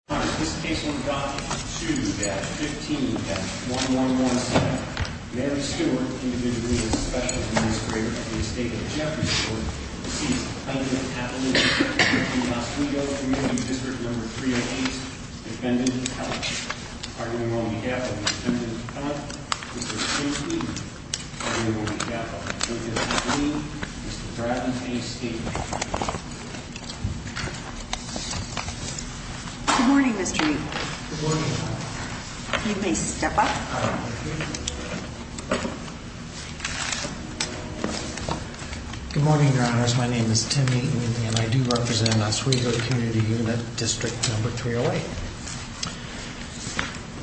ON RECORDS Sacon temporary schedule the morning my name is Timmy and I do represent Oswego Community Unit District number 308.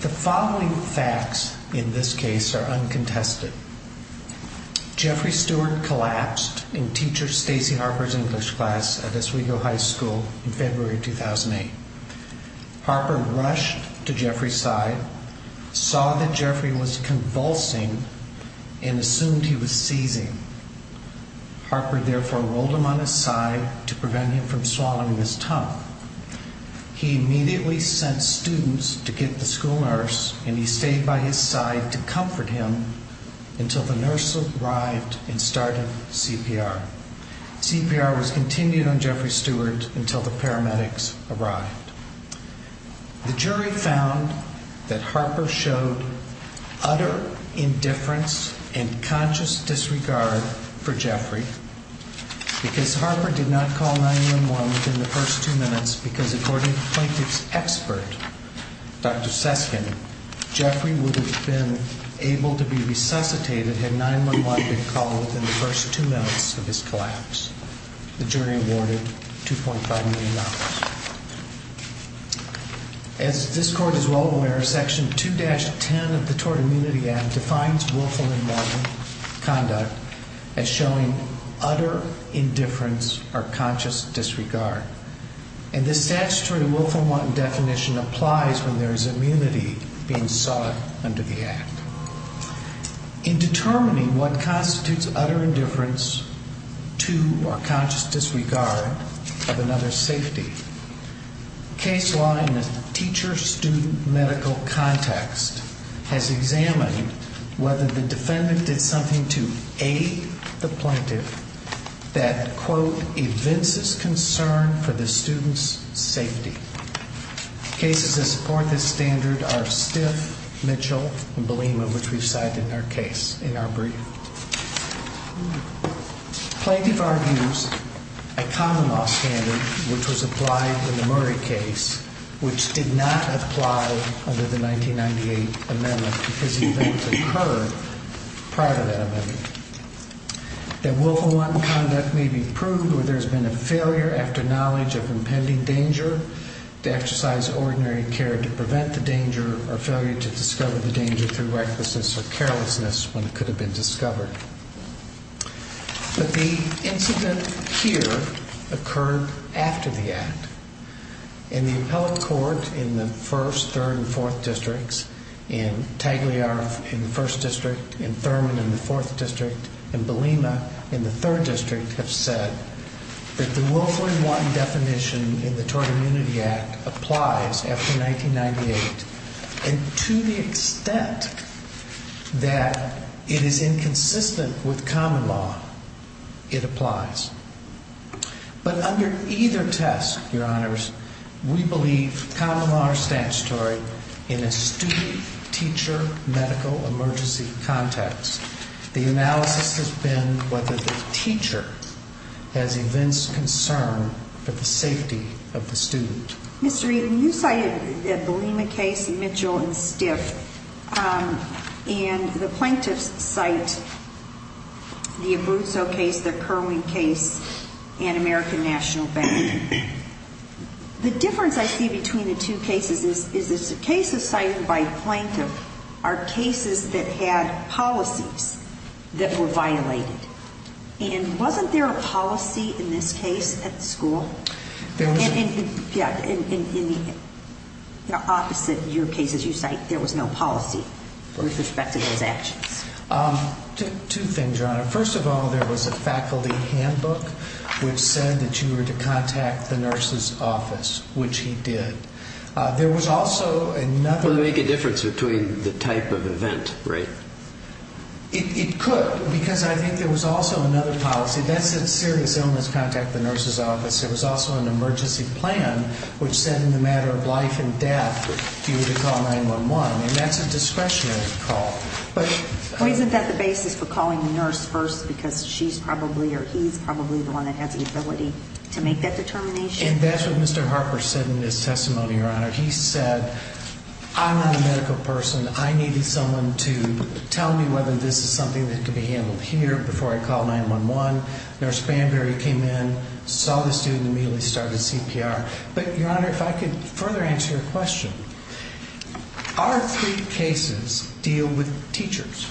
The following facts in this case are uncontested. Jeffrey Stewart collapsed in teacher Stacy Harper's English class at Oswego High School in February 2008. Harper rushed to Jeffrey's side, saw that Jeffrey was convulsing and assumed he was seizing. Harper therefore rolled him on his side to prevent him from swallowing his tongue. He immediately sent students to get the school nurse and he stayed by his side to comfort him until the nurse arrived and started CPR. CPR was continued on Jeffrey Stewart until the paramedics arrived. The jury found that Harper showed utter indifference and conscious disregard for Jeffrey because Harper did not call 911 within the first two minutes because according to plaintiff's expert, Dr. Stewart had resuscitated had 911 been called within the first two minutes of his collapse. The jury awarded $2.5 million. As this court is well aware, Section 2-10 of the Tort Immunity Act defines willful and violent conduct as showing utter indifference or conscious disregard. And this statutory willful and wanton definition applies when there is immunity being sought under the act. In determining what constitutes utter indifference to or conscious disregard of another's safety, case law in the teacher-student medical context has examined whether the defendant did something to aid the plaintiff that quote, evinces concern for the student's safety. Cases that support this standard are Stiff, Mitchell, and Belima, which we've cited in our brief. Plaintiff argues a common law standard, which was applied in the Murray case, which did not apply under the 1998 amendment because the event occurred prior to that amendment. That willful and wanton conduct may be proved where there's been a failure after knowledge of impending danger to exercise ordinary care to prevent the danger or failure to discover the danger through recklessness or carelessness when it could have been discovered. But the incident here occurred after the act. In the appellate court in the first district, in Thurman in the fourth district, and Belima in the third district have said that the willful and wanton definition in the Tort Immunity Act applies after 1998. And to the extent that it is inconsistent with common law, it applies. But under either test, Your Honors, we believe common law is more statutory in a student-teacher medical emergency context. The analysis has been whether the teacher has events concern for the safety of the student. Mr. Eden, you cited the Belima case, Mitchell, and Stiff, and the plaintiffs cite the Abruzzo case, the Kerwin case, and the other two cases, is the cases cited by plaintiff are cases that had policies that were violated. And wasn't there a policy in this case at the school? Yeah, in the opposite of your cases you cite, there was no policy with respect to those actions. Two things, Your Honor. First of all, there was a faculty handbook which said that you were to contact the nurse's office, which he did. Would it make a difference between the type of event, right? It could, because I think there was also another policy. That said serious illness, contact the nurse's office. There was also an emergency plan which said in the matter of life and death, you were to call 911. And that's a discretionary call. But isn't that the basis for calling the nurse first because she's probably or he's probably the one that has the ability to make that determination? And that's what Mr. Harper said in his testimony, Your Honor. He said, I'm not a medical person. I needed someone to tell me whether this is something that could be handled here before I call 911. Nurse Banbury came in, saw the student, immediately started CPR. But, Your Honor, if I could further answer your question. Our three cases deal with teachers.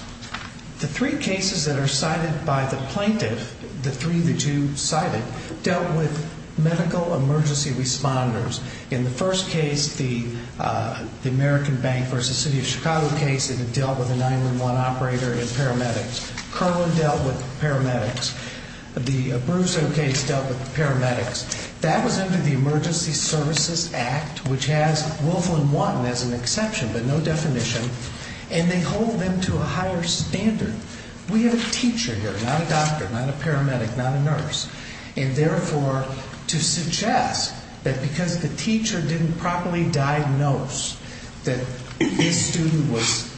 The three cases that are cited by the plaintiff, the three that you cited, dealt with medical emergency responders. In the first case, the American Bank v. City of Chicago case, it dealt with a 911 operator and paramedics. Curlin dealt with paramedics. The Bruzo case dealt with paramedics. That was under the Emergency Services Act, which has Wolflin 1 as an exception, but no definition. And they hold them to a higher standard. We have a teacher here, not a doctor, not a paramedic, not a nurse. And therefore, to suggest that because the teacher didn't properly diagnose that this student was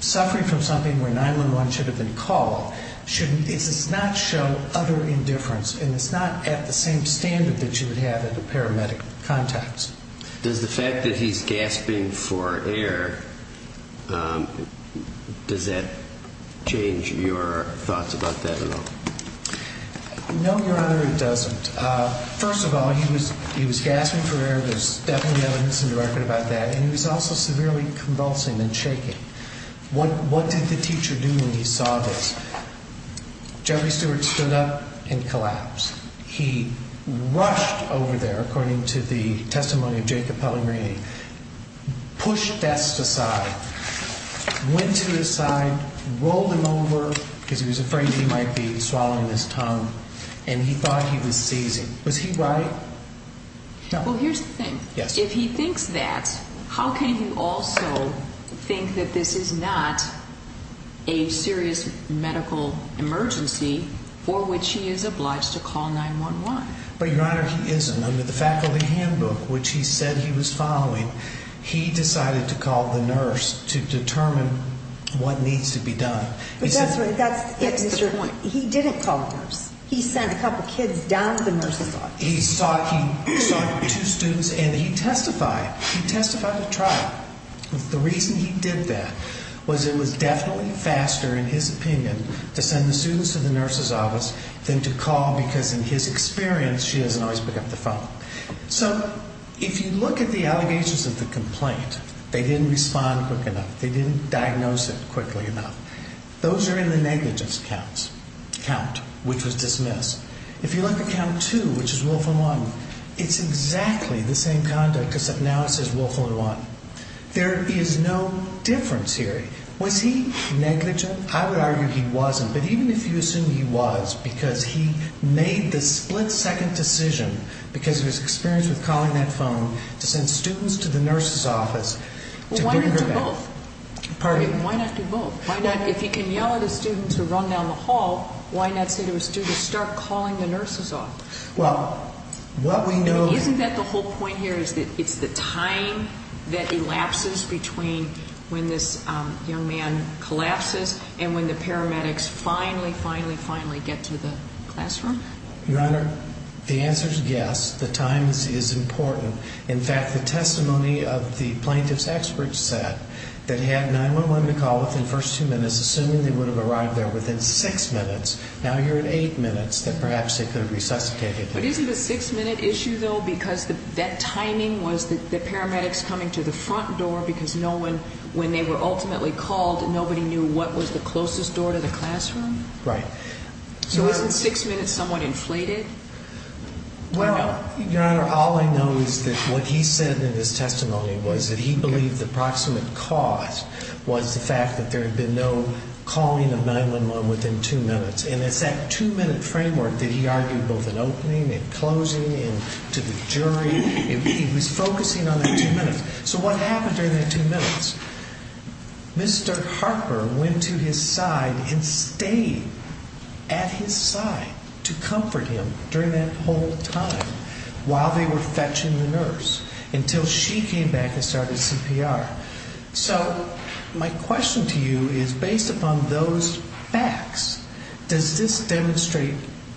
suffering from something where 911 should have been called, it does not show utter indifference. And it's not at the same standard that you would have in a paramedic context. Does the fact that he's gasping for air, does that change your thoughts about that at all? No, Your Honor, it doesn't. First of all, he was gasping for air. There's definitely evidence in the record about that. And he was also severely convulsing and shaking. What did the teacher do when he saw this? Jeffrey Stewart stood up and collapsed. He rushed over there, according to the testimony of Jacob Pellegrini, pushed Vest aside, went to his side, rolled him over because he was afraid he might be swallowing his tongue, and he thought he was seizing. Was he right? Well, here's the thing. If he thinks that, how can he also think that this is not a serious medical emergency for which he is obliged to call 911? But, Your Honor, he isn't. Under the faculty handbook, which he said he was following, he decided to call the nurse to determine what needs to be done. That's the point. He didn't call the nurse. He sent a couple kids down to the nurse's office. He saw two students, and he testified. He testified at trial. The reason he did that was it was definitely faster, in his opinion, to send the students to the nurse's office than to call because, in his experience, she doesn't always pick up the phone. So, if you look at the allegations of the complaint, they didn't respond quick enough. They didn't diagnose it quickly enough. Those are in the negligence count, which was dismissed. If you look at count two, which is willful and wanton, it's exactly the same conduct except now it says willful and wanton. There is no difference here. Was he negligent? I would argue he wasn't. But even if you assume he was because he made the split-second decision, because of his experience with calling that phone, to send students to the nurse's office. Why not do both? If he can yell at a student to run down the hall, why not say to a student, start calling the nurses off? Isn't that the whole point here is that it's the time that elapses between when this young man collapses and when the paramedics finally, finally, finally get to the classroom? Your Honor, the answer is yes. The time is important. In fact, the testimony of the plaintiff's expert said that he had 911 to call within the first two minutes, assuming they would have arrived there within six minutes. Now you're at eight minutes that perhaps they could have resuscitated him. But isn't the six-minute issue, though, because that timing was the paramedics coming to the front door because no one, when they were ultimately called, nobody knew what was the closest door to the classroom? Right. So isn't six minutes somewhat inflated? Well, Your Honor, all I know is that what he said in his testimony was that he believed the proximate cause was the fact that there had been no calling of 911 within two minutes. And it's that two-minute framework that he argued both in opening and closing and to the jury. He was focusing on that two minutes. So what happened during that two minutes? Mr. Harper went to his side and stayed at his side to comfort him during that whole time while they were fetching the nurse until she came back and started CPR. So my question to you is, based upon those facts, does this demonstrate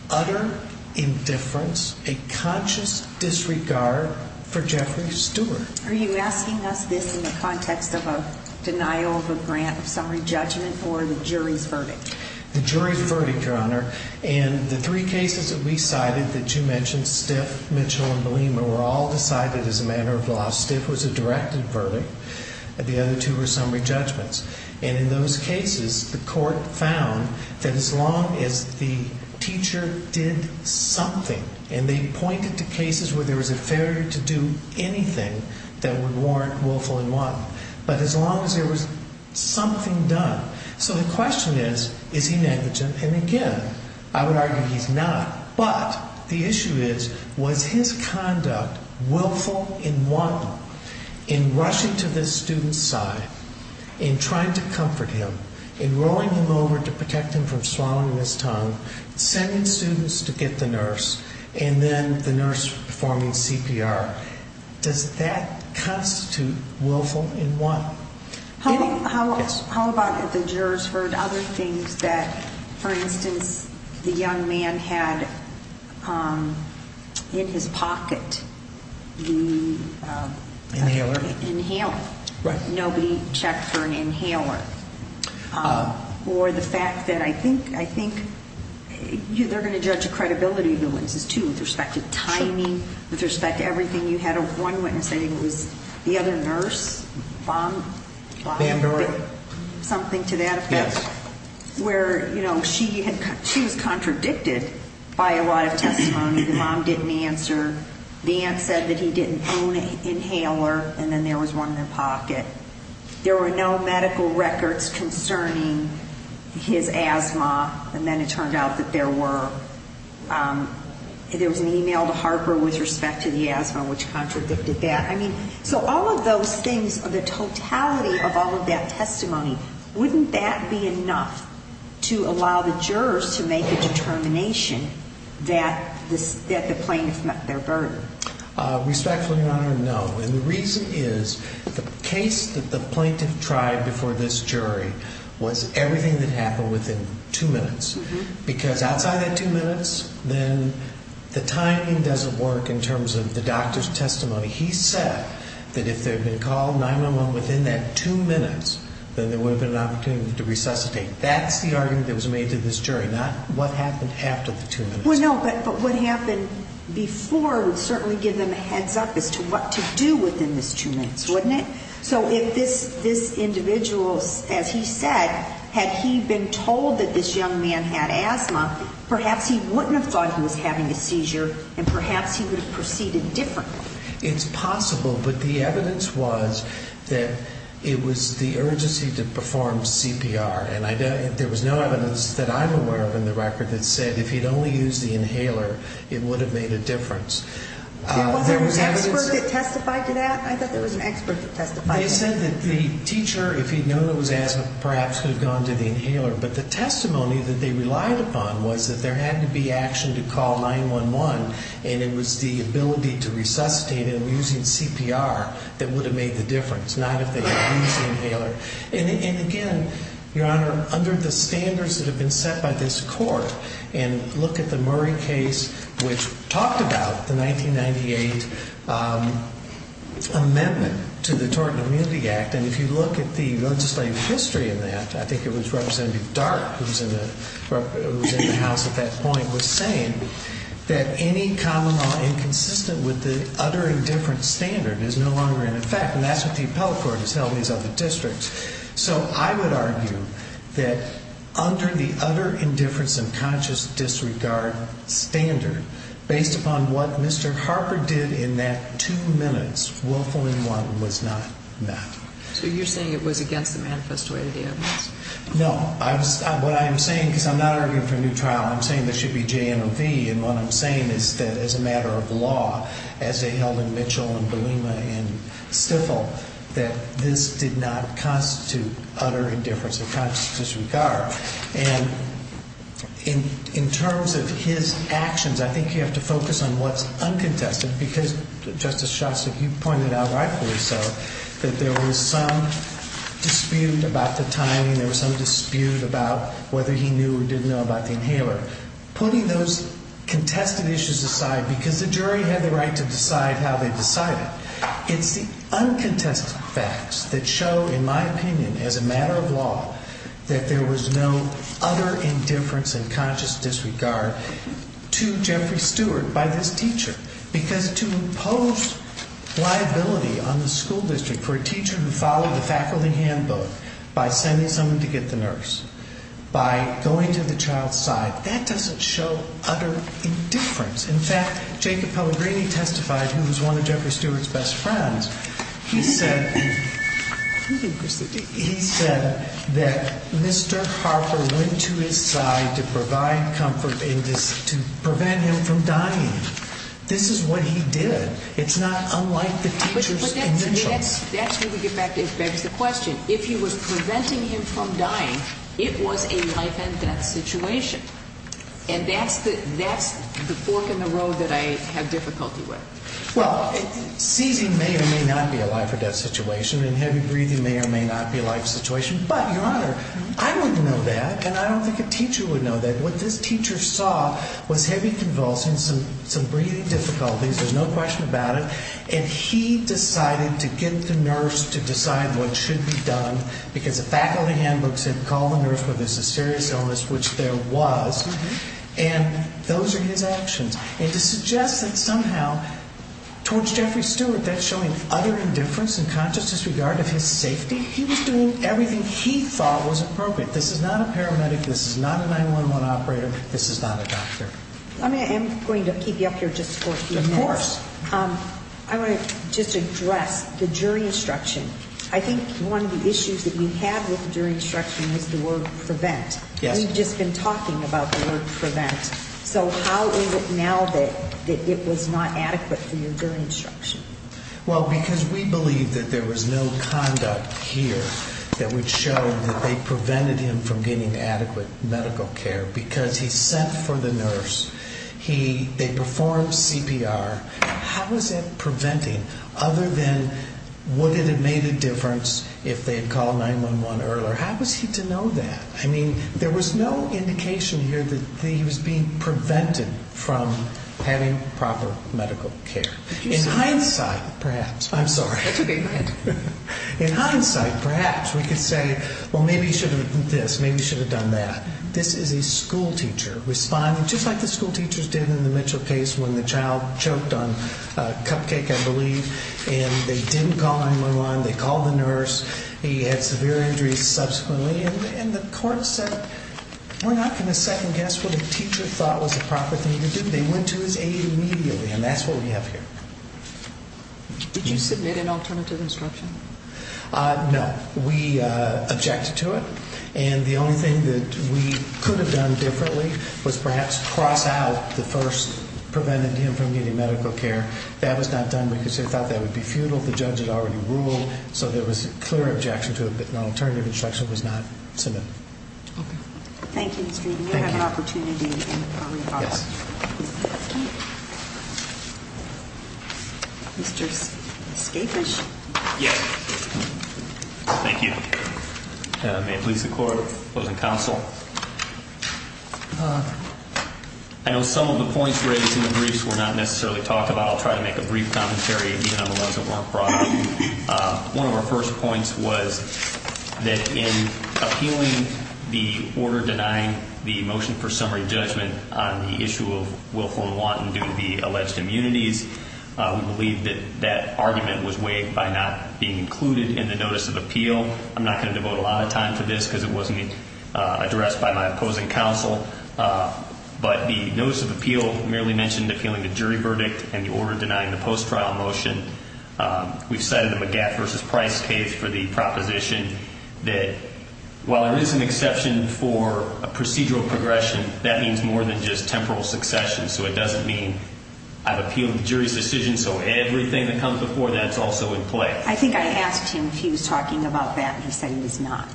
utter indifference, a conscious disregard for Jeffrey Stewart? Are you asking us this in the context of a denial of a grant of summary judgment or the jury's verdict? The jury's verdict, Your Honor. And the three cases that we cited that you mentioned, Stiff, Mitchell, and Belima, were all decided as a matter of law. Stiff was a directed verdict. The other two were summary judgments. And in those cases, the court found that as long as the teacher did something, and they pointed to cases where there was a failure to do anything that would warrant willful and want, but as long as there was something done. So the question is, is he negligent? And again, I would argue he's not. But the issue is, was his conduct willful and want? In rushing to this student's side, in trying to comfort him, in rolling him over to protect him from swallowing his tongue, sending students to get the nurse, and then the nurse performing CPR, does that constitute willful and want? How about if the jurors heard other things that, for instance, the young man had in his pocket the inhaler. Nobody checked for an inhaler. Or the fact that I think they're going to judge the credibility of the witnesses, too, with respect to timing, with respect to everything you had. One witness, I think it was the other nurse, something to that effect, where she was contradicted by a lot of testimony. The mom didn't answer. The aunt said that he didn't own an inhaler, and then there was one in their pocket. There were no medical records concerning his asthma, and then it turned out that there was an e-mail to Harper with respect to the asthma, which contradicted that. So all of those things, the totality of all of that testimony, wouldn't that be enough to allow the jurors to make a determination that the plaintiff met their burden? Respectfully, Your Honor, no. And the reason is, the case that the two minutes, because outside of that two minutes, then the timing doesn't work in terms of the doctor's testimony. He said that if they had been called 911 within that two minutes, then there would have been an opportunity to resuscitate. That's the argument that was made to this jury, not what happened after the two minutes. Well, no, but what happened before would certainly give them a heads up as to what to do within those two minutes, wouldn't it? So if this individual, as he said, had he been told that this young man had asthma, perhaps he wouldn't have thought he was having a seizure, and perhaps he would have proceeded differently. It's possible, but the evidence was that it was the urgency to perform CPR, and there was no evidence that I'm aware of in the record that said if he'd only used the inhaler, it would have made a difference. Now, was there an expert that testified to that? I thought there was an expert that testified to that. They said that the teacher, if he'd known it was asthma, perhaps could have gone to the inhaler, but the testimony that they relied upon was that there had to be action to call 911, and it was the ability to resuscitate him using CPR that would have made the difference, not if they had used the inhaler. And again, Your Honor, under the standards that have been set by this Court, and look at the Murray case, which talked about the 1998 amendment to the Tort and Immunity Act, and if you look at the legislative history in that, I think it was Representative Dart, who was in the House at that point, was saying that any common law inconsistent with the utter indifference standard is no longer in effect, and that's what the utter indifference and conscious disregard standard, based upon what Mr. Harper did in that two minutes, willful in one, was not met. So you're saying it was against the manifest way of the evidence? No. What I'm saying, because I'm not arguing for a new trial, I'm saying there should be J and a V, and what I'm saying is that as a matter of law, as they held in Mitchell and Bolema and Stifel, that this did not constitute utter indifference of conscious disregard. And in terms of his actions, I think you have to focus on what's uncontested, because Justice Shostak, you pointed out rightfully so, that there was some dispute about the timing, there was some dispute about whether he knew or didn't know about the inhaler. Putting those contested issues aside, because the jury had the right to decide how they decided, it's the uncontested facts that show, in my opinion, as a matter of law, that there was no utter indifference and conscious disregard to Jeffrey Stewart by this teacher, because to impose liability on the school district for a teacher who followed the faculty handbook by sending someone to get the nurse, by going to the child's side, that doesn't show utter indifference. In fact, Jacob Pellegrini testified, who was one of Jeffrey Stewart's best friends, he said that Mr. Harper went to his side to provide comfort and to prevent him from dying. This is what he did. It's not unlike the teacher's initials. That's where we get back to the question. If he was preventing him from dying, it was a life and death situation. And that's the fork in the road that I have difficulty with. Well, seizing may or may not be a life or death situation, and heavy breathing may or may not be a life situation. But, Your Honor, I wouldn't know that, and I don't think a teacher would know that. What this teacher saw was heavy convulsions, some breathing difficulties, there's no question about it, and he decided to get the nurse to decide what should be done, because the faculty handbook said, call the nurse whether it's a serious illness, which there was, and those are his actions. And to suggest that somehow, towards Jeffrey Stewart, that's showing utter indifference and conscious disregard of his safety? He was doing everything he thought was appropriate. This is not a paramedic, this is not a 911 operator, this is not a doctor. I'm going to keep you up here just for a few minutes. Of course. I want to just address the jury instruction. I think one of the issues that we had with the jury instruction was the word prevent. Yes. We've just been talking about the word prevent. So how is it now that it was not adequate for your jury instruction? Well, because we believe that there was no conduct here that would show that they prevented him from getting adequate medical care, because he sent for the nurse, they performed CPR. How was that preventing, other than would it have made a difference if they had called 911 earlier? How was he to know that? I mean, there was no indication here that he was being prevented from having proper medical care. In hindsight, perhaps. I'm sorry. In hindsight, perhaps, we could say, well, maybe he should have done this, maybe he should have done that. This is a schoolteacher responding just like the schoolteachers did in the Mitchell case when the child choked on a cupcake, I believe, and they didn't call 911, they called the nurse, he had severe injuries subsequently, and the court said, we're not going to second guess what a teacher thought was the proper thing to do. They went to his aid immediately, and that's what we have here. Did you submit an alternative instruction? No. We objected to it, and the only thing that we could have done differently was perhaps cross out the first, prevented him from getting medical care. That was not done because they thought that would be futile, the judge had already ruled, so there was a clear objection to it, but an alternative instruction was not submitted. Okay. Thank you, Mr. Reed. We'll have an opportunity to talk about that. Mr. Skafish? Yes. Thank you. May it please the Court. Closing counsel. I know some of the points raised in the briefs were not necessarily talked about. I'll try to make a brief commentary, even on the ones that weren't brought up. One of our first points was that in appealing the order denying the motion for summary judgment on the issue of Willful and Wanton due to the alleged immunities, we believe that that argument was waived by not being included in the notice of appeal. I'm not going to devote a lot of time to this because it wasn't addressed by my opposing counsel, but the notice of appeal merely mentioned appealing the jury verdict and the order denying the post-trial motion. We've cited the Magat versus Price case for the proposition that while there is an exception for a procedural progression, that means more than just temporal succession, so it doesn't mean I've appealed the jury's decision, so everything that comes before that is also in play. I think I asked him if he was talking about that and he said he was not.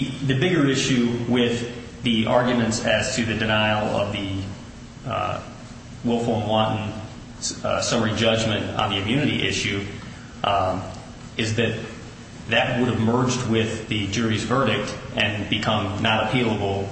The bigger issue with the arguments as to the denial of the Willful and Wanton summary judgment on the immunity issue is that that would have merged with the jury's verdict and become not appealable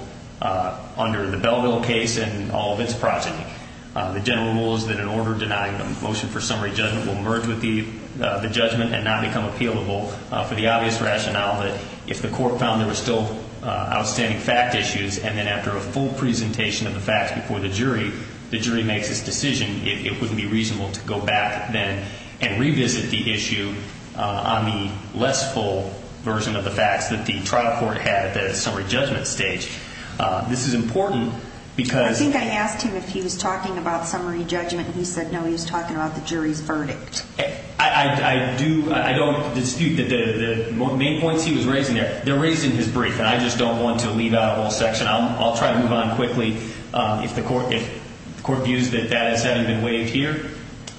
under the Belleville case and all of its progeny. The general rule is that an order denying a motion for summary judgment will merge with the judgment and not become appealable for the obvious rationale that if the court found there were still outstanding fact issues and then after a full presentation of the facts before the jury, the jury makes its decision, it wouldn't be reasonable to go back then and revisit the issue on the less full version of the facts that the trial court had at the summary judgment stage. This is important because... I think I asked him if he was talking about summary judgment and he said no, he was talking about the jury's verdict. I don't dispute the main points he was raising there. They're raised in his brief and I just don't want to leave out a whole section. I'll try to move on quickly. If the court views that that hasn't been waived here,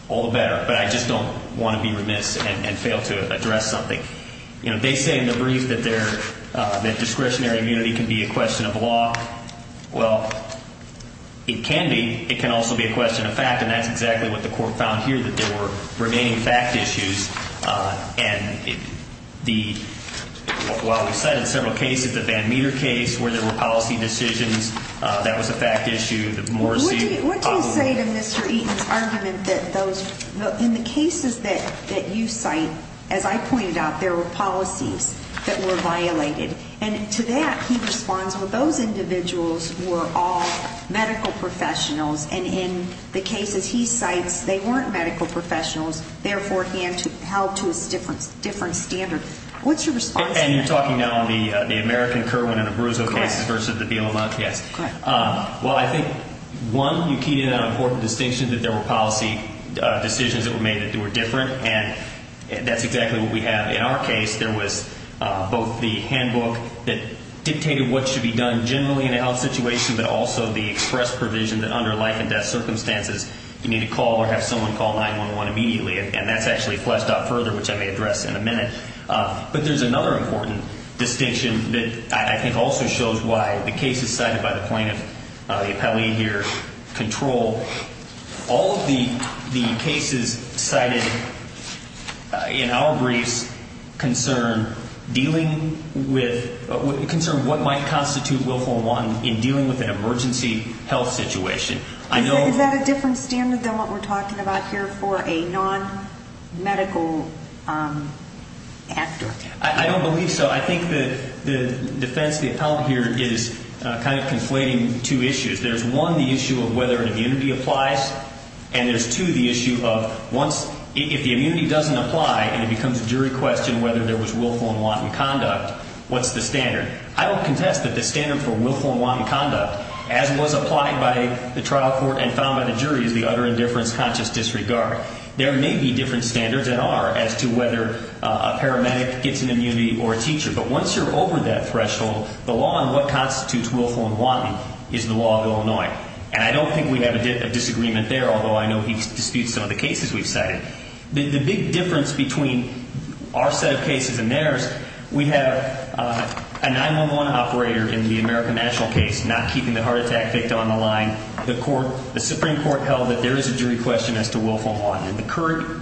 all the better. But I just don't want to be remiss and fail to address something. They say in the brief that discretionary immunity can be a question of law. Well, it can be. It can also be a question of fact and that's exactly what the court found here, that there were remaining fact issues. And while we cited several cases, the Van Meter case where there were policy decisions, that was a fact issue. What do you say to Mr. Eaton's argument that in the cases that you cite, as I pointed out, there were policies that were violated? And to that, he responds, well, those individuals were all medical professionals. And in the cases he cites, they weren't medical professionals. Therefore, he held to a different standard. What's your response to that? And you're talking now on the American Kirwan and Abruzzo cases versus the BLM case. Well, I think, one, you keyed in on an important distinction that there were policy decisions that were made that were different. And that's exactly what we have in our case. There was both the handbook that dictated what should be done generally in a health situation, but also the express provision that under life and death circumstances, you need to call or have someone call 911 immediately. And that's actually fleshed out further, which I may address in a minute. But there's another important distinction that I think also shows why the cases cited by the plaintiff, the appellee here, in terms of control, all of the cases cited in our briefs concern dealing with what might constitute willful unwanted in dealing with an emergency health situation. Is that a different standard than what we're talking about here for a non-medical actor? I don't believe so. I think the defense of the appellant here is kind of conflating two issues. There's, one, the issue of whether an immunity applies. And there's, two, the issue of if the immunity doesn't apply and it becomes a jury question whether there was willful unwanted conduct, what's the standard? I will contest that the standard for willful unwanted conduct, as was applied by the trial court and found by the jury, is the utter indifference, conscious disregard. There may be different standards, and are, as to whether a paramedic gets an immunity or a teacher. But once you're over that threshold, the law on what constitutes willful unwanted is the law of Illinois. And I don't think we have a disagreement there, although I know he disputes some of the cases we've cited. The big difference between our set of cases and theirs, we have a 911 operator in the American National case not keeping the heart attack victim on the line. The Supreme Court held that there is a jury question as to willful unwanted. In the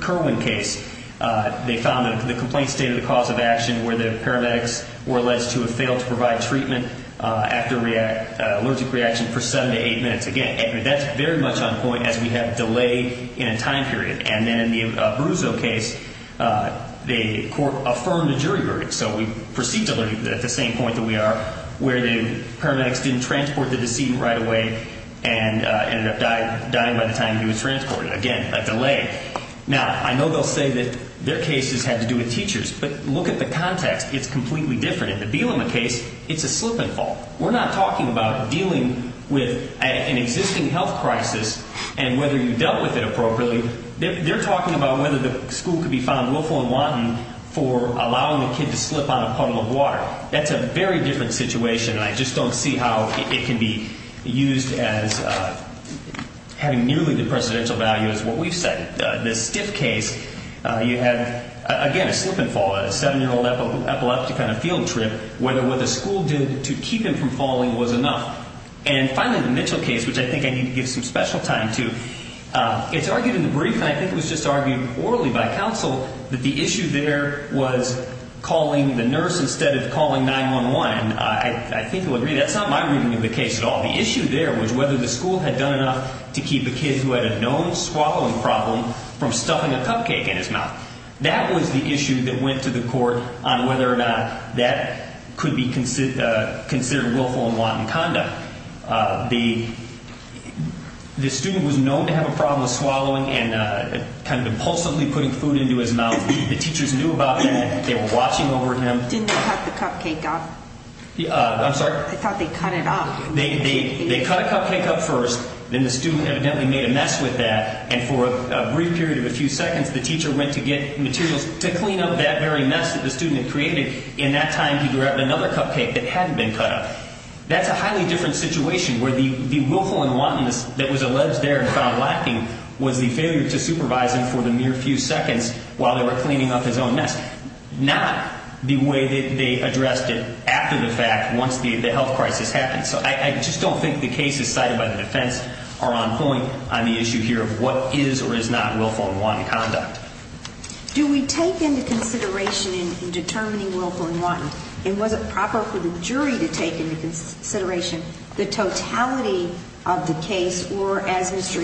Kerwin case, they found that the complaint stated the cause of action where the paramedics were alleged to have failed to provide treatment after allergic reaction for seven to eight minutes. Again, that's very much on point as we have delay in a time period. And then in the Abruzzo case, the court affirmed a jury verdict. So we proceed to the same point that we are, where the paramedics didn't transport the decedent right away and ended up dying by the time he was transported. Again, a delay. Now, I know they'll say that their cases had to do with teachers, but look at the context. It's completely different. In the Bielema case, it's a slip and fall. We're not talking about dealing with an existing health crisis and whether you dealt with it appropriately. They're talking about whether the school could be found willful unwanted for allowing the kid to slip on a puddle of water. That's a very different situation, and I just don't see how it can be used as having nearly the precedential value as what we've said. The Stiff case, you have, again, a slip and fall, a seven-year-old epileptic on a field trip. Whether what the school did to keep him from falling was enough. And finally, the Mitchell case, which I think I need to give some special time to. It's argued in the brief, and I think it was just argued orally by counsel, that the issue there was calling the nurse instead of calling 911. I think you'll agree that's not my reading of the case at all. The issue there was whether the school had done enough to keep a kid who had a known swallowing problem from stuffing a cupcake in his mouth. That was the issue that went to the court on whether or not that could be considered willful and unwanted conduct. The student was known to have a problem with swallowing and kind of impulsively putting food into his mouth. The teachers knew about that. They were watching over him. Didn't they cut the cupcake up? They cut a cupcake up first, then the student evidently made a mess with that. And for a brief period of a few seconds, the teacher went to get materials to clean up that very mess that the student had created. In that time, he grabbed another cupcake that hadn't been cut up. That's a highly different situation where the willful and wantonness that was alleged there and found lacking was the failure to supervise him for the mere few seconds while they were cleaning up his own mess, not the way that they addressed it after the fact once the health crisis happened. So I just don't think the cases cited by the defense are on point on the issue here of what is or is not willful and wanton conduct. Do we take into consideration in determining willful and wanton, and was it proper for the jury to take into consideration the totality of the case, or as Mr.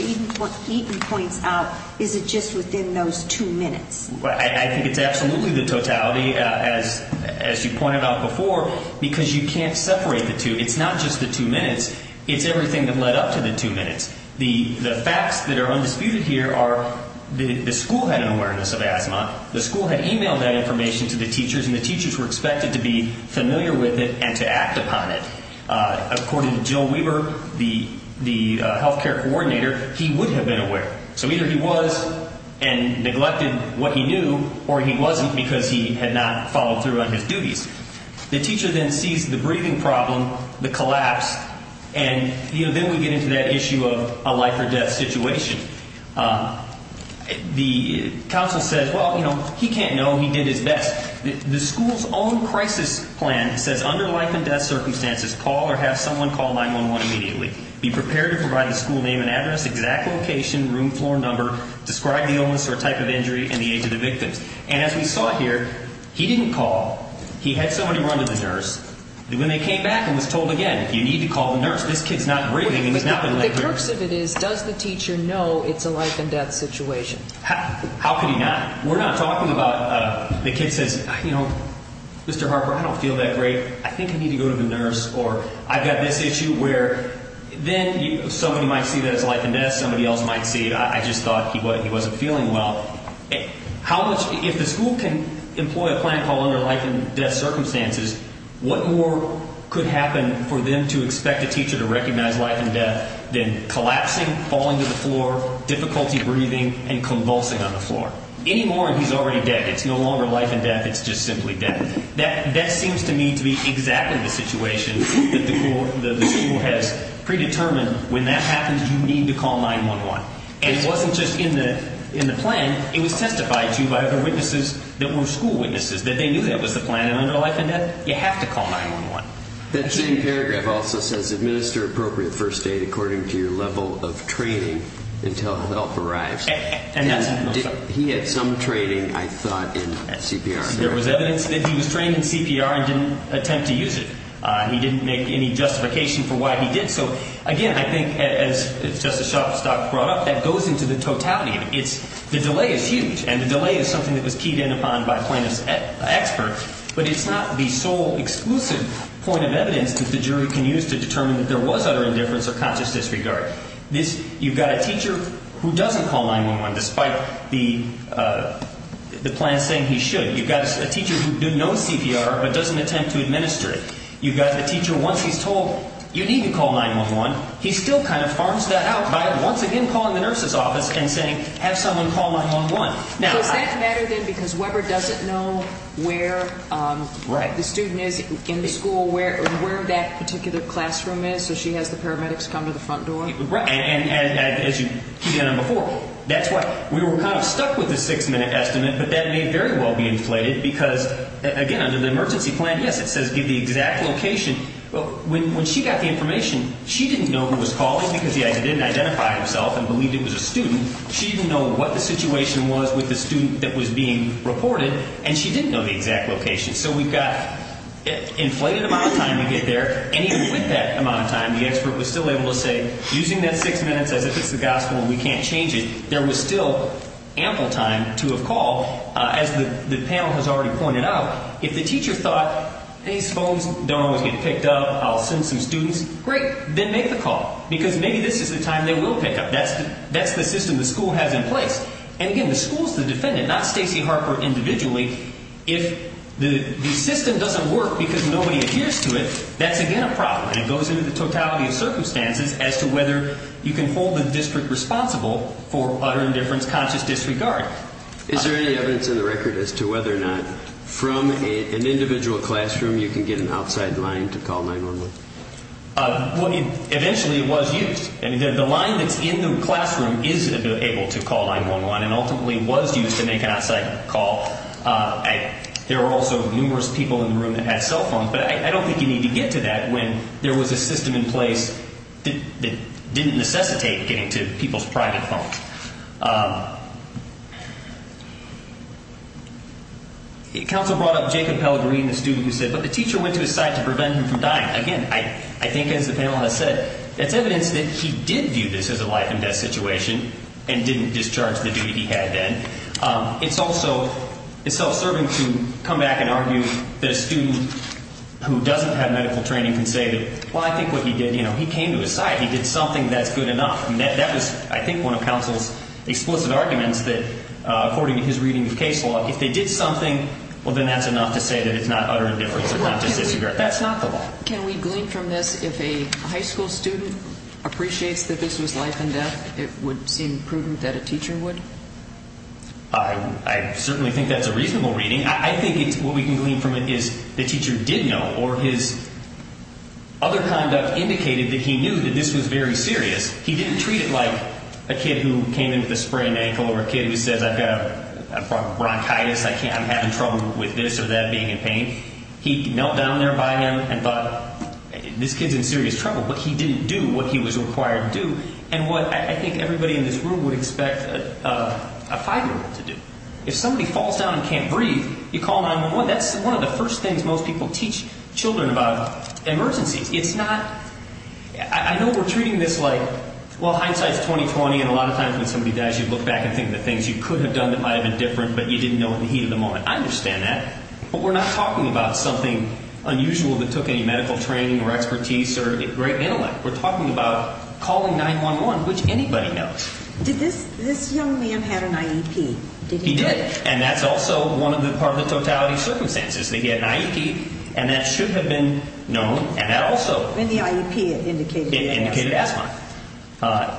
Eaton points out, is it just within those two minutes? I think it's absolutely the totality, as you pointed out before, because you can't separate the two. It's not just the two minutes. It's everything that led up to the two minutes. The facts that are undisputed here are the school had an awareness of asthma. The school had emailed that information to the teachers, and the teachers were expected to be familiar with it and to act upon it. According to Jill Weber, the health care coordinator, he would have been aware. So either he was and neglected what he knew, or he wasn't because he had not followed through on his duties. The teacher then sees the breathing problem, the collapse, and then we get into that issue of a life or death situation. The counsel says, well, you know, he can't know. He did his best. The school's own crisis plan says under life and death circumstances, call or have someone call 911 immediately. Be prepared to provide the school name and address, exact location, room, floor number, describe the illness or type of injury, and the age of the victim. And as we saw here, he didn't call. He had somebody run to the nurse. When they came back and was told again, you need to call the nurse. This kid's not breathing and he's not going to let go. The crux of it is, does the teacher know it's a life and death situation? How could he not? We're not talking about the kid says, you know, Mr. Harper, I don't feel that great. I think I need to go to the nurse. Or I've got this issue where then somebody might see that it's life and death. Somebody else might see it. I just thought he wasn't feeling well. If the school can employ a plan called under life and death circumstances, what more could happen for them to expect a teacher to recognize life and death than collapsing, falling to the floor, difficulty breathing, and convulsing on the floor? Any more and he's already dead. It's no longer life and death, it's just simply death. That seems to me to be exactly the situation that the school has predetermined. When that happens, you need to call 9-1-1. It wasn't just in the plan, it was testified to by other witnesses that were school witnesses that they knew that was the plan. Under life and death, you have to call 9-1-1. That same paragraph also says administer appropriate first aid according to your level of training until help arrives. He had some training, I thought, in CPR. There was evidence that he was trained in CPR and didn't attempt to use it. He didn't make any justification for why he did so. Again, I think, as Justice Shostakovich brought up, that goes into the totality of it. The delay is huge, and the delay is something that was keyed in upon by plaintiff's expert, but it's not the sole exclusive point of evidence that the jury can use to determine that there was utter indifference or conscious disregard. You've got a teacher who doesn't call 9-1-1, despite the plan saying he should. You've got a teacher who knows CPR but doesn't attempt to administer it. You've got a teacher, once he's told you need to call 9-1-1, he still kind of farms that out by once again calling the nurse's office and saying, have someone call 9-1-1. Does that matter, then, because Weber doesn't know where the student is in the school, where that particular classroom is, so she has the paramedics come to the front door? Right. And as you keyed in on before, that's why. We were kind of stuck with the six-minute estimate, but that may very well be inflated because, again, under the emergency plan, yes, it says give the exact location. When she got the information, she didn't know who was calling because he didn't identify himself and believed it was a student. She didn't know what the situation was with the student that was being reported, and she didn't know the exact location. So we've got an inflated amount of time to get there, and even with that amount of time, the expert was still able to say, using that six minutes as if it's the gospel and we can't change it, there was still ample time to have called. As the panel has already pointed out, if the teacher thought, these phones don't always get picked up, I'll send some students, great. Then make the call because maybe this is the time they will pick up. That's the system the school has in place. And again, the school is the defendant, not Stacey Harper individually. If the system doesn't work because nobody adheres to it, that's, again, a problem, and it goes into the totality of circumstances as to whether you can hold the district responsible for utter indifference, conscious disregard. Is there any evidence in the record as to whether or not from an individual classroom you can get an outside line to call 911? I mean, eventually it was used. The line that's in the classroom is able to call 911 and ultimately was used to make an outside call. There were also numerous people in the room that had cell phones, but I don't think you need to get to that when there was a system in place that didn't necessitate getting to people's private phones. Counsel brought up Jacob Pellegrini, the student who said, but the teacher went to his side to prevent him from dying. Again, I think as the panel has said, it's evidence that he did view this as a life and death situation and didn't discharge the duty he had then. It's also self-serving to come back and argue that a student who doesn't have medical training can say, well, I think what he did, he came to his side. He did something that's good enough. And that was, I think, one of counsel's explicit arguments that according to his reading of case law, if they did something, well, then that's enough to say that it's not utter indifference or conscious disregard. That's not the law. Can we glean from this if a high school student appreciates that this was life and death, it would seem prudent that a teacher would? I certainly think that's a reasonable reading. I think what we can glean from it is the teacher did know, or his other conduct indicated that he knew that this was very serious. He didn't treat it like a kid who came in with a sprained ankle or a kid who says, I've got bronchitis, I'm having trouble with this or that being in pain. He knelt down there by him and thought, this kid's in serious trouble. But he didn't do what he was required to do and what I think everybody in this room would expect a five-year-old to do. If somebody falls down and can't breathe, you call 911. That's one of the first things most people teach children about emergencies. I know we're treating this like, well, hindsight's 20-20, and a lot of times when somebody dies, you look back and think of the things you could have done that might have been different, but you didn't know in the heat of the moment. I understand that, but we're not talking about something unusual that took any medical training or expertise or great intellect. We're talking about calling 911, which anybody knows. Did this young man have an IEP? He did, and that's also part of the totality of circumstances. He had an IEP, and that should have been known, and that also indicated asthma.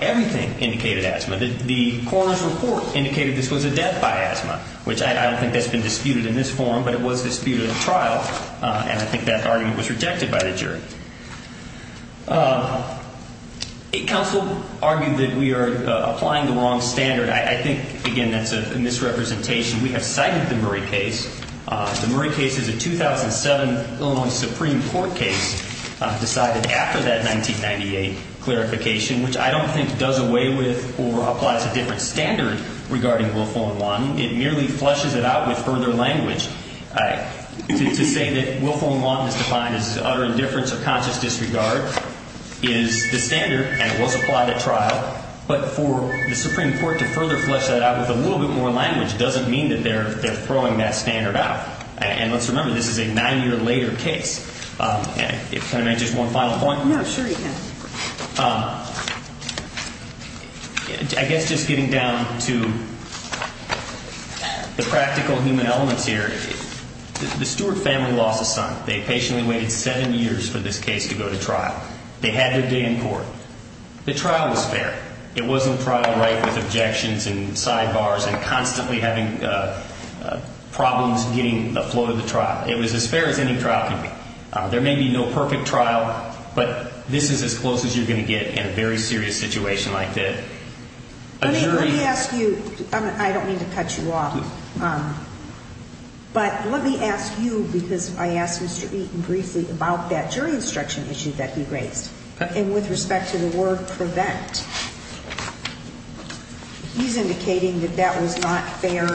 Everything indicated asthma. The coroner's report indicated this was a death by asthma, which I don't think that's been disputed in this forum, but it was disputed in trial, and I think that argument was rejected by the jury. A counsel argued that we are applying the wrong standard. I think, again, that's a misrepresentation. We have cited the Murray case. The Murray case is a 2007 Illinois Supreme Court case decided after that 1998 clarification, which I don't think does away with or applies a different standard regarding willful and wanton. It merely flushes it out with further language. To say that willful and wanton is defined as utter indifference or conscious disregard is the standard, and it was applied at trial, but for the Supreme Court to further flush that out with a little bit more language doesn't mean that they're throwing that standard out. And let's remember, this is a nine-year later case. Can I make just one final point? No, sure you can. I guess just getting down to the practical human elements here. The Stewart family lost a son. They patiently waited seven years for this case to go to trial. They had their day in court. The trial was fair. It wasn't trial right with objections and sidebars and constantly having problems getting the flow of the trial. It was as fair as any trial could be. There may be no perfect trial, but this is as close as you're going to get in a very serious situation like this. Let me ask you. I don't mean to cut you off. But let me ask you, because I asked Mr. Eaton briefly about that jury instruction issue that he raised. And with respect to the word prevent. He's indicating that that was not fair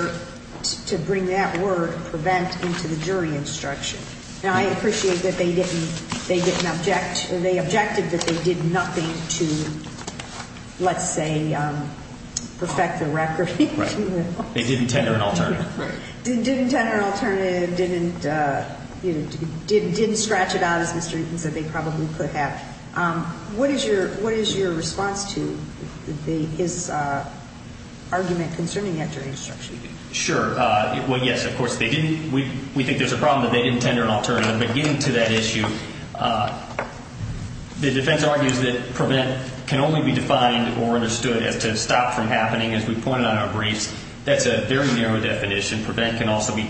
to bring that word, prevent, into the jury instruction. And I appreciate that they didn't object. They objected that they did nothing to, let's say, perfect the record. They didn't tender an alternative. Didn't tender an alternative. Didn't scratch it out as Mr. Eaton said they probably could have. What is your response to his argument concerning that jury instruction? Sure. Well, yes, of course, we think there's a problem that they didn't tender an alternative. But getting to that issue, the defense argues that prevent can only be defined or understood as to stop from happening. As we pointed out in our briefs, that's a very narrow definition. Prevent can also be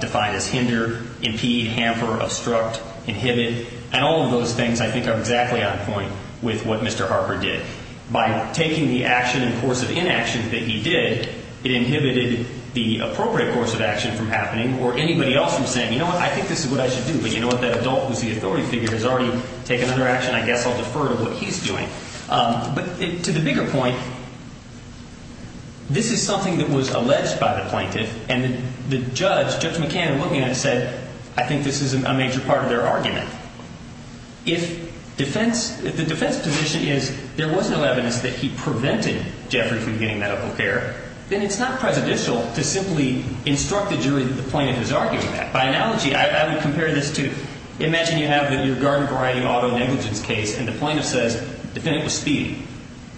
defined as hinder, impede, hamper, obstruct, inhibit. And all of those things, I think, are exactly on point with what Mr. Harper did. By taking the action and course of inaction that he did, it inhibited the appropriate course of action from happening or anybody else from saying, you know what, I think this is what I should do. But you know what, that adult who's the authority figure has already taken another action. I guess I'll defer to what he's doing. But to the bigger point, this is something that was alleged by the plaintiff. And the judge, Judge McCann, in looking at it said, I think this is a major part of their argument. If the defense position is there was no evidence that he prevented Jeffrey from getting medical care, then it's not presidential to simply instruct the jury that the plaintiff is arguing that. By analogy, I would compare this to imagine you have your garden variety auto negligence case and the plaintiff says the defendant was speeding.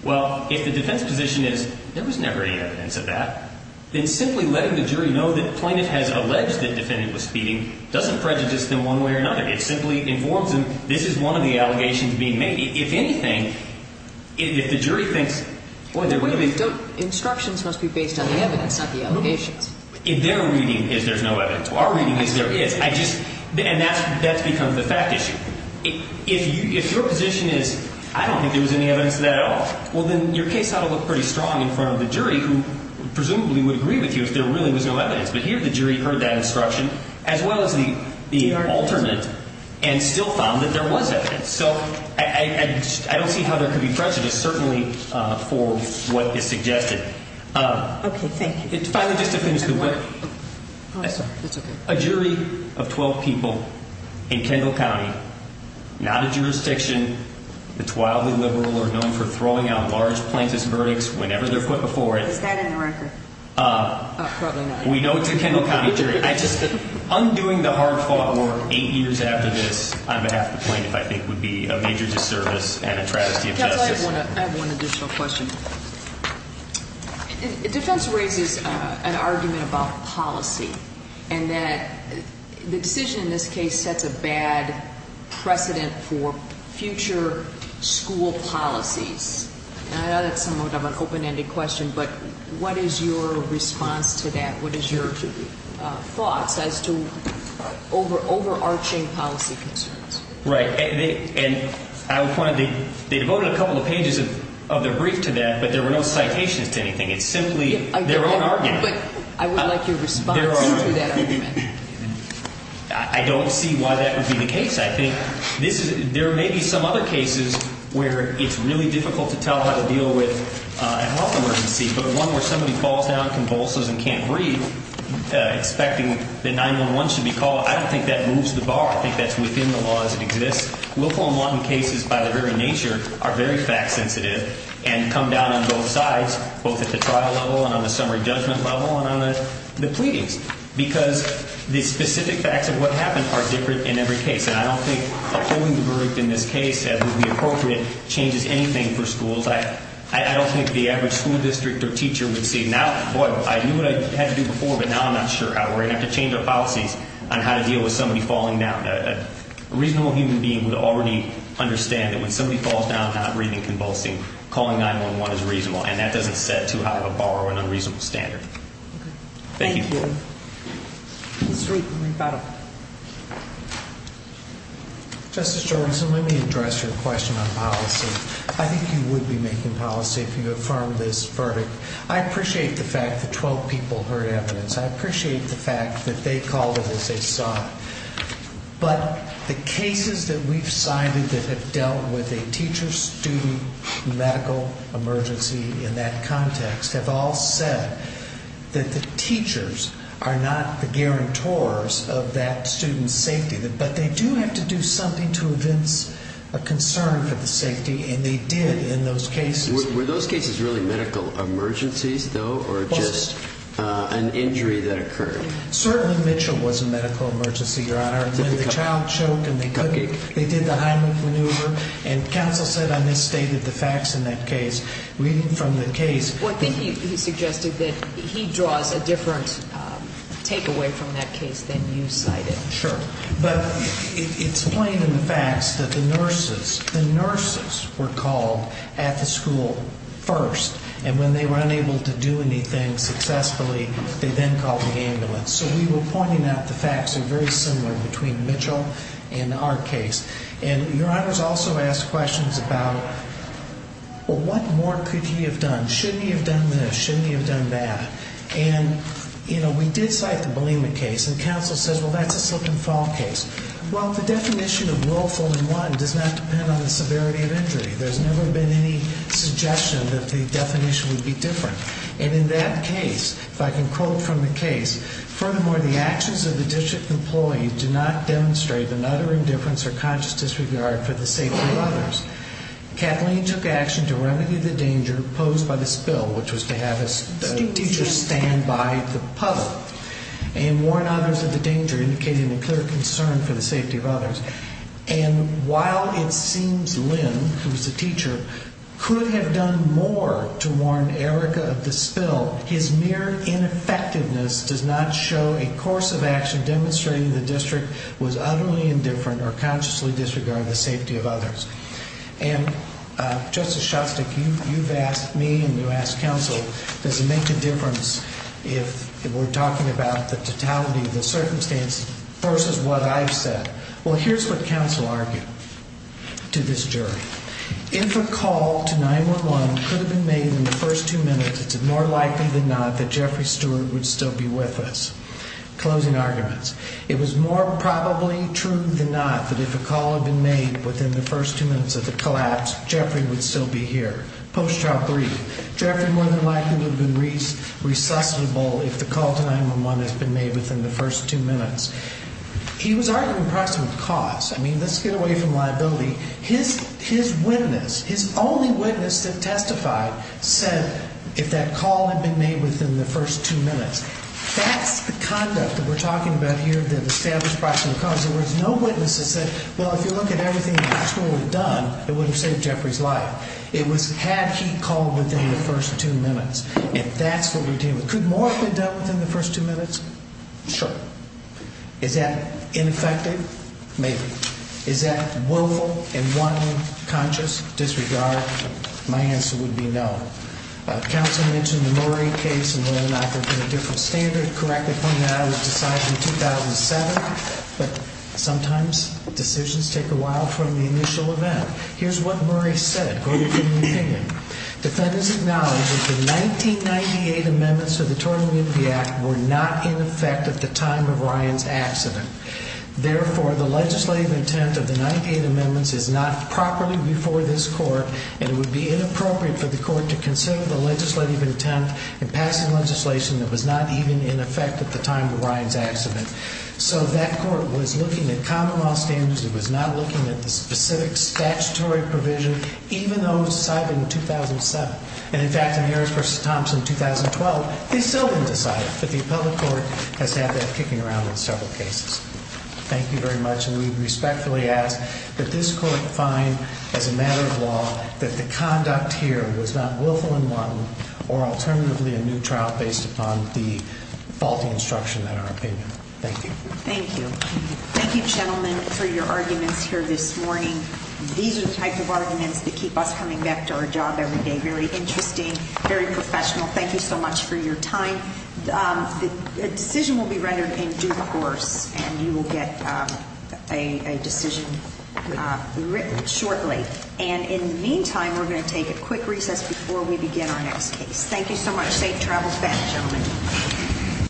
Well, if the defense position is there was never any evidence of that, then simply letting the jury know that the plaintiff has alleged that the defendant was speeding doesn't prejudice them one way or another. It simply informs them this is one of the allegations being made. If anything, if the jury thinks, boy, they're waiting. Instructions must be based on the evidence, not the allegations. If their reading is there's no evidence, our reading is there is. And that's become the fact issue. If your position is I don't think there was any evidence of that at all, well, then your case ought to look pretty strong in front of the jury who presumably would agree with you if there really was no evidence. But here the jury heard that instruction as well as the alternate and still found that there was evidence. So I don't see how there could be prejudice certainly for what is suggested. OK, thank you. Finally, just to finish. A jury of 12 people in Kendall County, not a jurisdiction that's wildly liberal or known for throwing out large plaintiff's verdicts whenever they're put before it. Is that in the record? Probably not. We know it's a Kendall County jury. I just undoing the hard fought war eight years after this on behalf of the plaintiff I think would be a major disservice and a tragedy of justice. I have one additional question. Defense raises an argument about policy and that the decision in this case sets a bad precedent for future school policies. And I know that's somewhat of an open ended question, but what is your response to that? What is your thoughts as to overarching policy concerns? Right. And I would point out they devoted a couple of pages of their brief to that, but there were no citations to anything. It's simply their own argument. But I would like your response to that argument. I don't see why that would be the case. I think there may be some other cases where it's really difficult to tell how to deal with a health emergency, but one where somebody falls down, convulses and can't breathe, expecting that 911 should be called. I don't think that moves the bar. I think that's within the law as it exists. Willful and wanton cases by their very nature are very fact sensitive and come down on both sides, both at the trial level and on the summary judgment level and on the pleadings. Because the specific facts of what happened are different in every case. And I don't think upholding the verdict in this case that would be appropriate changes anything for schools. I don't think the average school district or teacher would say, now, boy, I knew what I had to do before, but now I'm not sure how. We're going to have to change our policies on how to deal with somebody falling down. A reasonable human being would already understand that when somebody falls down, not breathing, convulsing, calling 911 is reasonable. And that doesn't set too high of a bar or an unreasonable standard. Thank you. Thank you. Mr. Reardon. Justice Jorgensen, let me address your question on policy. I think you would be making policy if you affirmed this verdict. I appreciate the fact that 12 people heard evidence. I appreciate the fact that they called it as they saw it. But the cases that we've cited that have dealt with a teacher-student medical emergency in that context have all said that the teachers are not the guarantors of that student's safety. But they do have to do something to evince a concern for the safety, and they did in those cases. Were those cases really medical emergencies, though, or just an injury that occurred? Certainly Mitchell was a medical emergency, Your Honor. When the child choked and they did the Heimlich maneuver, and counsel said I misstated the facts in that case. Reading from the case. Well, I think he suggested that he draws a different takeaway from that case than you cited. But it's plain in the facts that the nurses were called at the school first. And when they were unable to do anything successfully, they then called the ambulance. So we were pointing out the facts are very similar between Mitchell and our case. And Your Honor's also asked questions about what more could he have done? Shouldn't he have done this? Shouldn't he have done that? And, you know, we did cite the Belima case. And counsel says, well, that's a slip and fall case. Well, the definition of willful and want does not depend on the severity of injury. There's never been any suggestion that the definition would be different. And in that case, if I can quote from the case, furthermore, the actions of the district employee do not demonstrate an utter indifference or conscious disregard for the safety of others. Kathleen took action to remedy the danger posed by the spill, which was to have a teacher stand by the puddle and warn others of the danger, indicating a clear concern for the safety of others. And while it seems Lynn, who was the teacher, could have done more to warn Erica of the spill, his mere ineffectiveness does not show a course of action demonstrating the district was utterly indifferent or consciously disregard the safety of others. And Justice Shostak, you've asked me and you've asked counsel, does it make a difference if we're talking about the totality of the circumstance versus what I've said? Well, here's what counsel argued to this jury. If a call to 911 could have been made in the first two minutes, it's more likely than not that Jeffrey Stewart would still be with us. Closing arguments. It was more probably true than not that if a call had been made within the first two minutes of the collapse, Jeffrey would still be here. Post-trial brief. Jeffrey more than likely would have been resuscitable if the call to 911 has been made within the first two minutes. He was arguing approximate cause. I mean, let's get away from liability. His witness, his only witness that testified, said if that call had been made within the first two minutes. That's the conduct that we're talking about here, the established approximate cause. In other words, no witnesses said, well, if you look at everything the hospital had done, it would have saved Jeffrey's life. It was had he called within the first two minutes. And that's what we're dealing with. Could more have been done within the first two minutes? Sure. Is that ineffective? Maybe. Is that willful and one conscious disregard? My answer would be no. Counsel mentioned the Murray case and whether or not there would be a different standard. Correctly pointed out, it was decided in 2007. But sometimes decisions take a while from the initial event. Here's what Murray said. Go ahead and give me your opinion. Defendants acknowledge that the 1998 amendments to the Tort Amnesty Act were not in effect at the time of Ryan's accident. Therefore, the legislative intent of the 1998 amendments is not properly before this court. And it would be inappropriate for the court to consider the legislative intent in passing legislation that was not even in effect at the time of Ryan's accident. So that court was looking at common law standards. It was not looking at the specific statutory provision, even though it was decided in 2007. And, in fact, in Harris v. Thompson, 2012, it's still been decided. But the appellate court has had that kicking around in several cases. Thank you very much. And we respectfully ask that this court find, as a matter of law, that the conduct here was not willful and one or, alternatively, a new trial based upon the faulty instruction in our opinion. Thank you. Thank you. Thank you, gentlemen, for your arguments here this morning. These are the types of arguments that keep us coming back to our job every day. Very interesting. Very professional. Thank you so much for your time. The decision will be rendered in due course, and you will get a decision written shortly. And, in the meantime, we're going to take a quick recess before we begin our next case. Thank you so much. Safe travels back, gentlemen.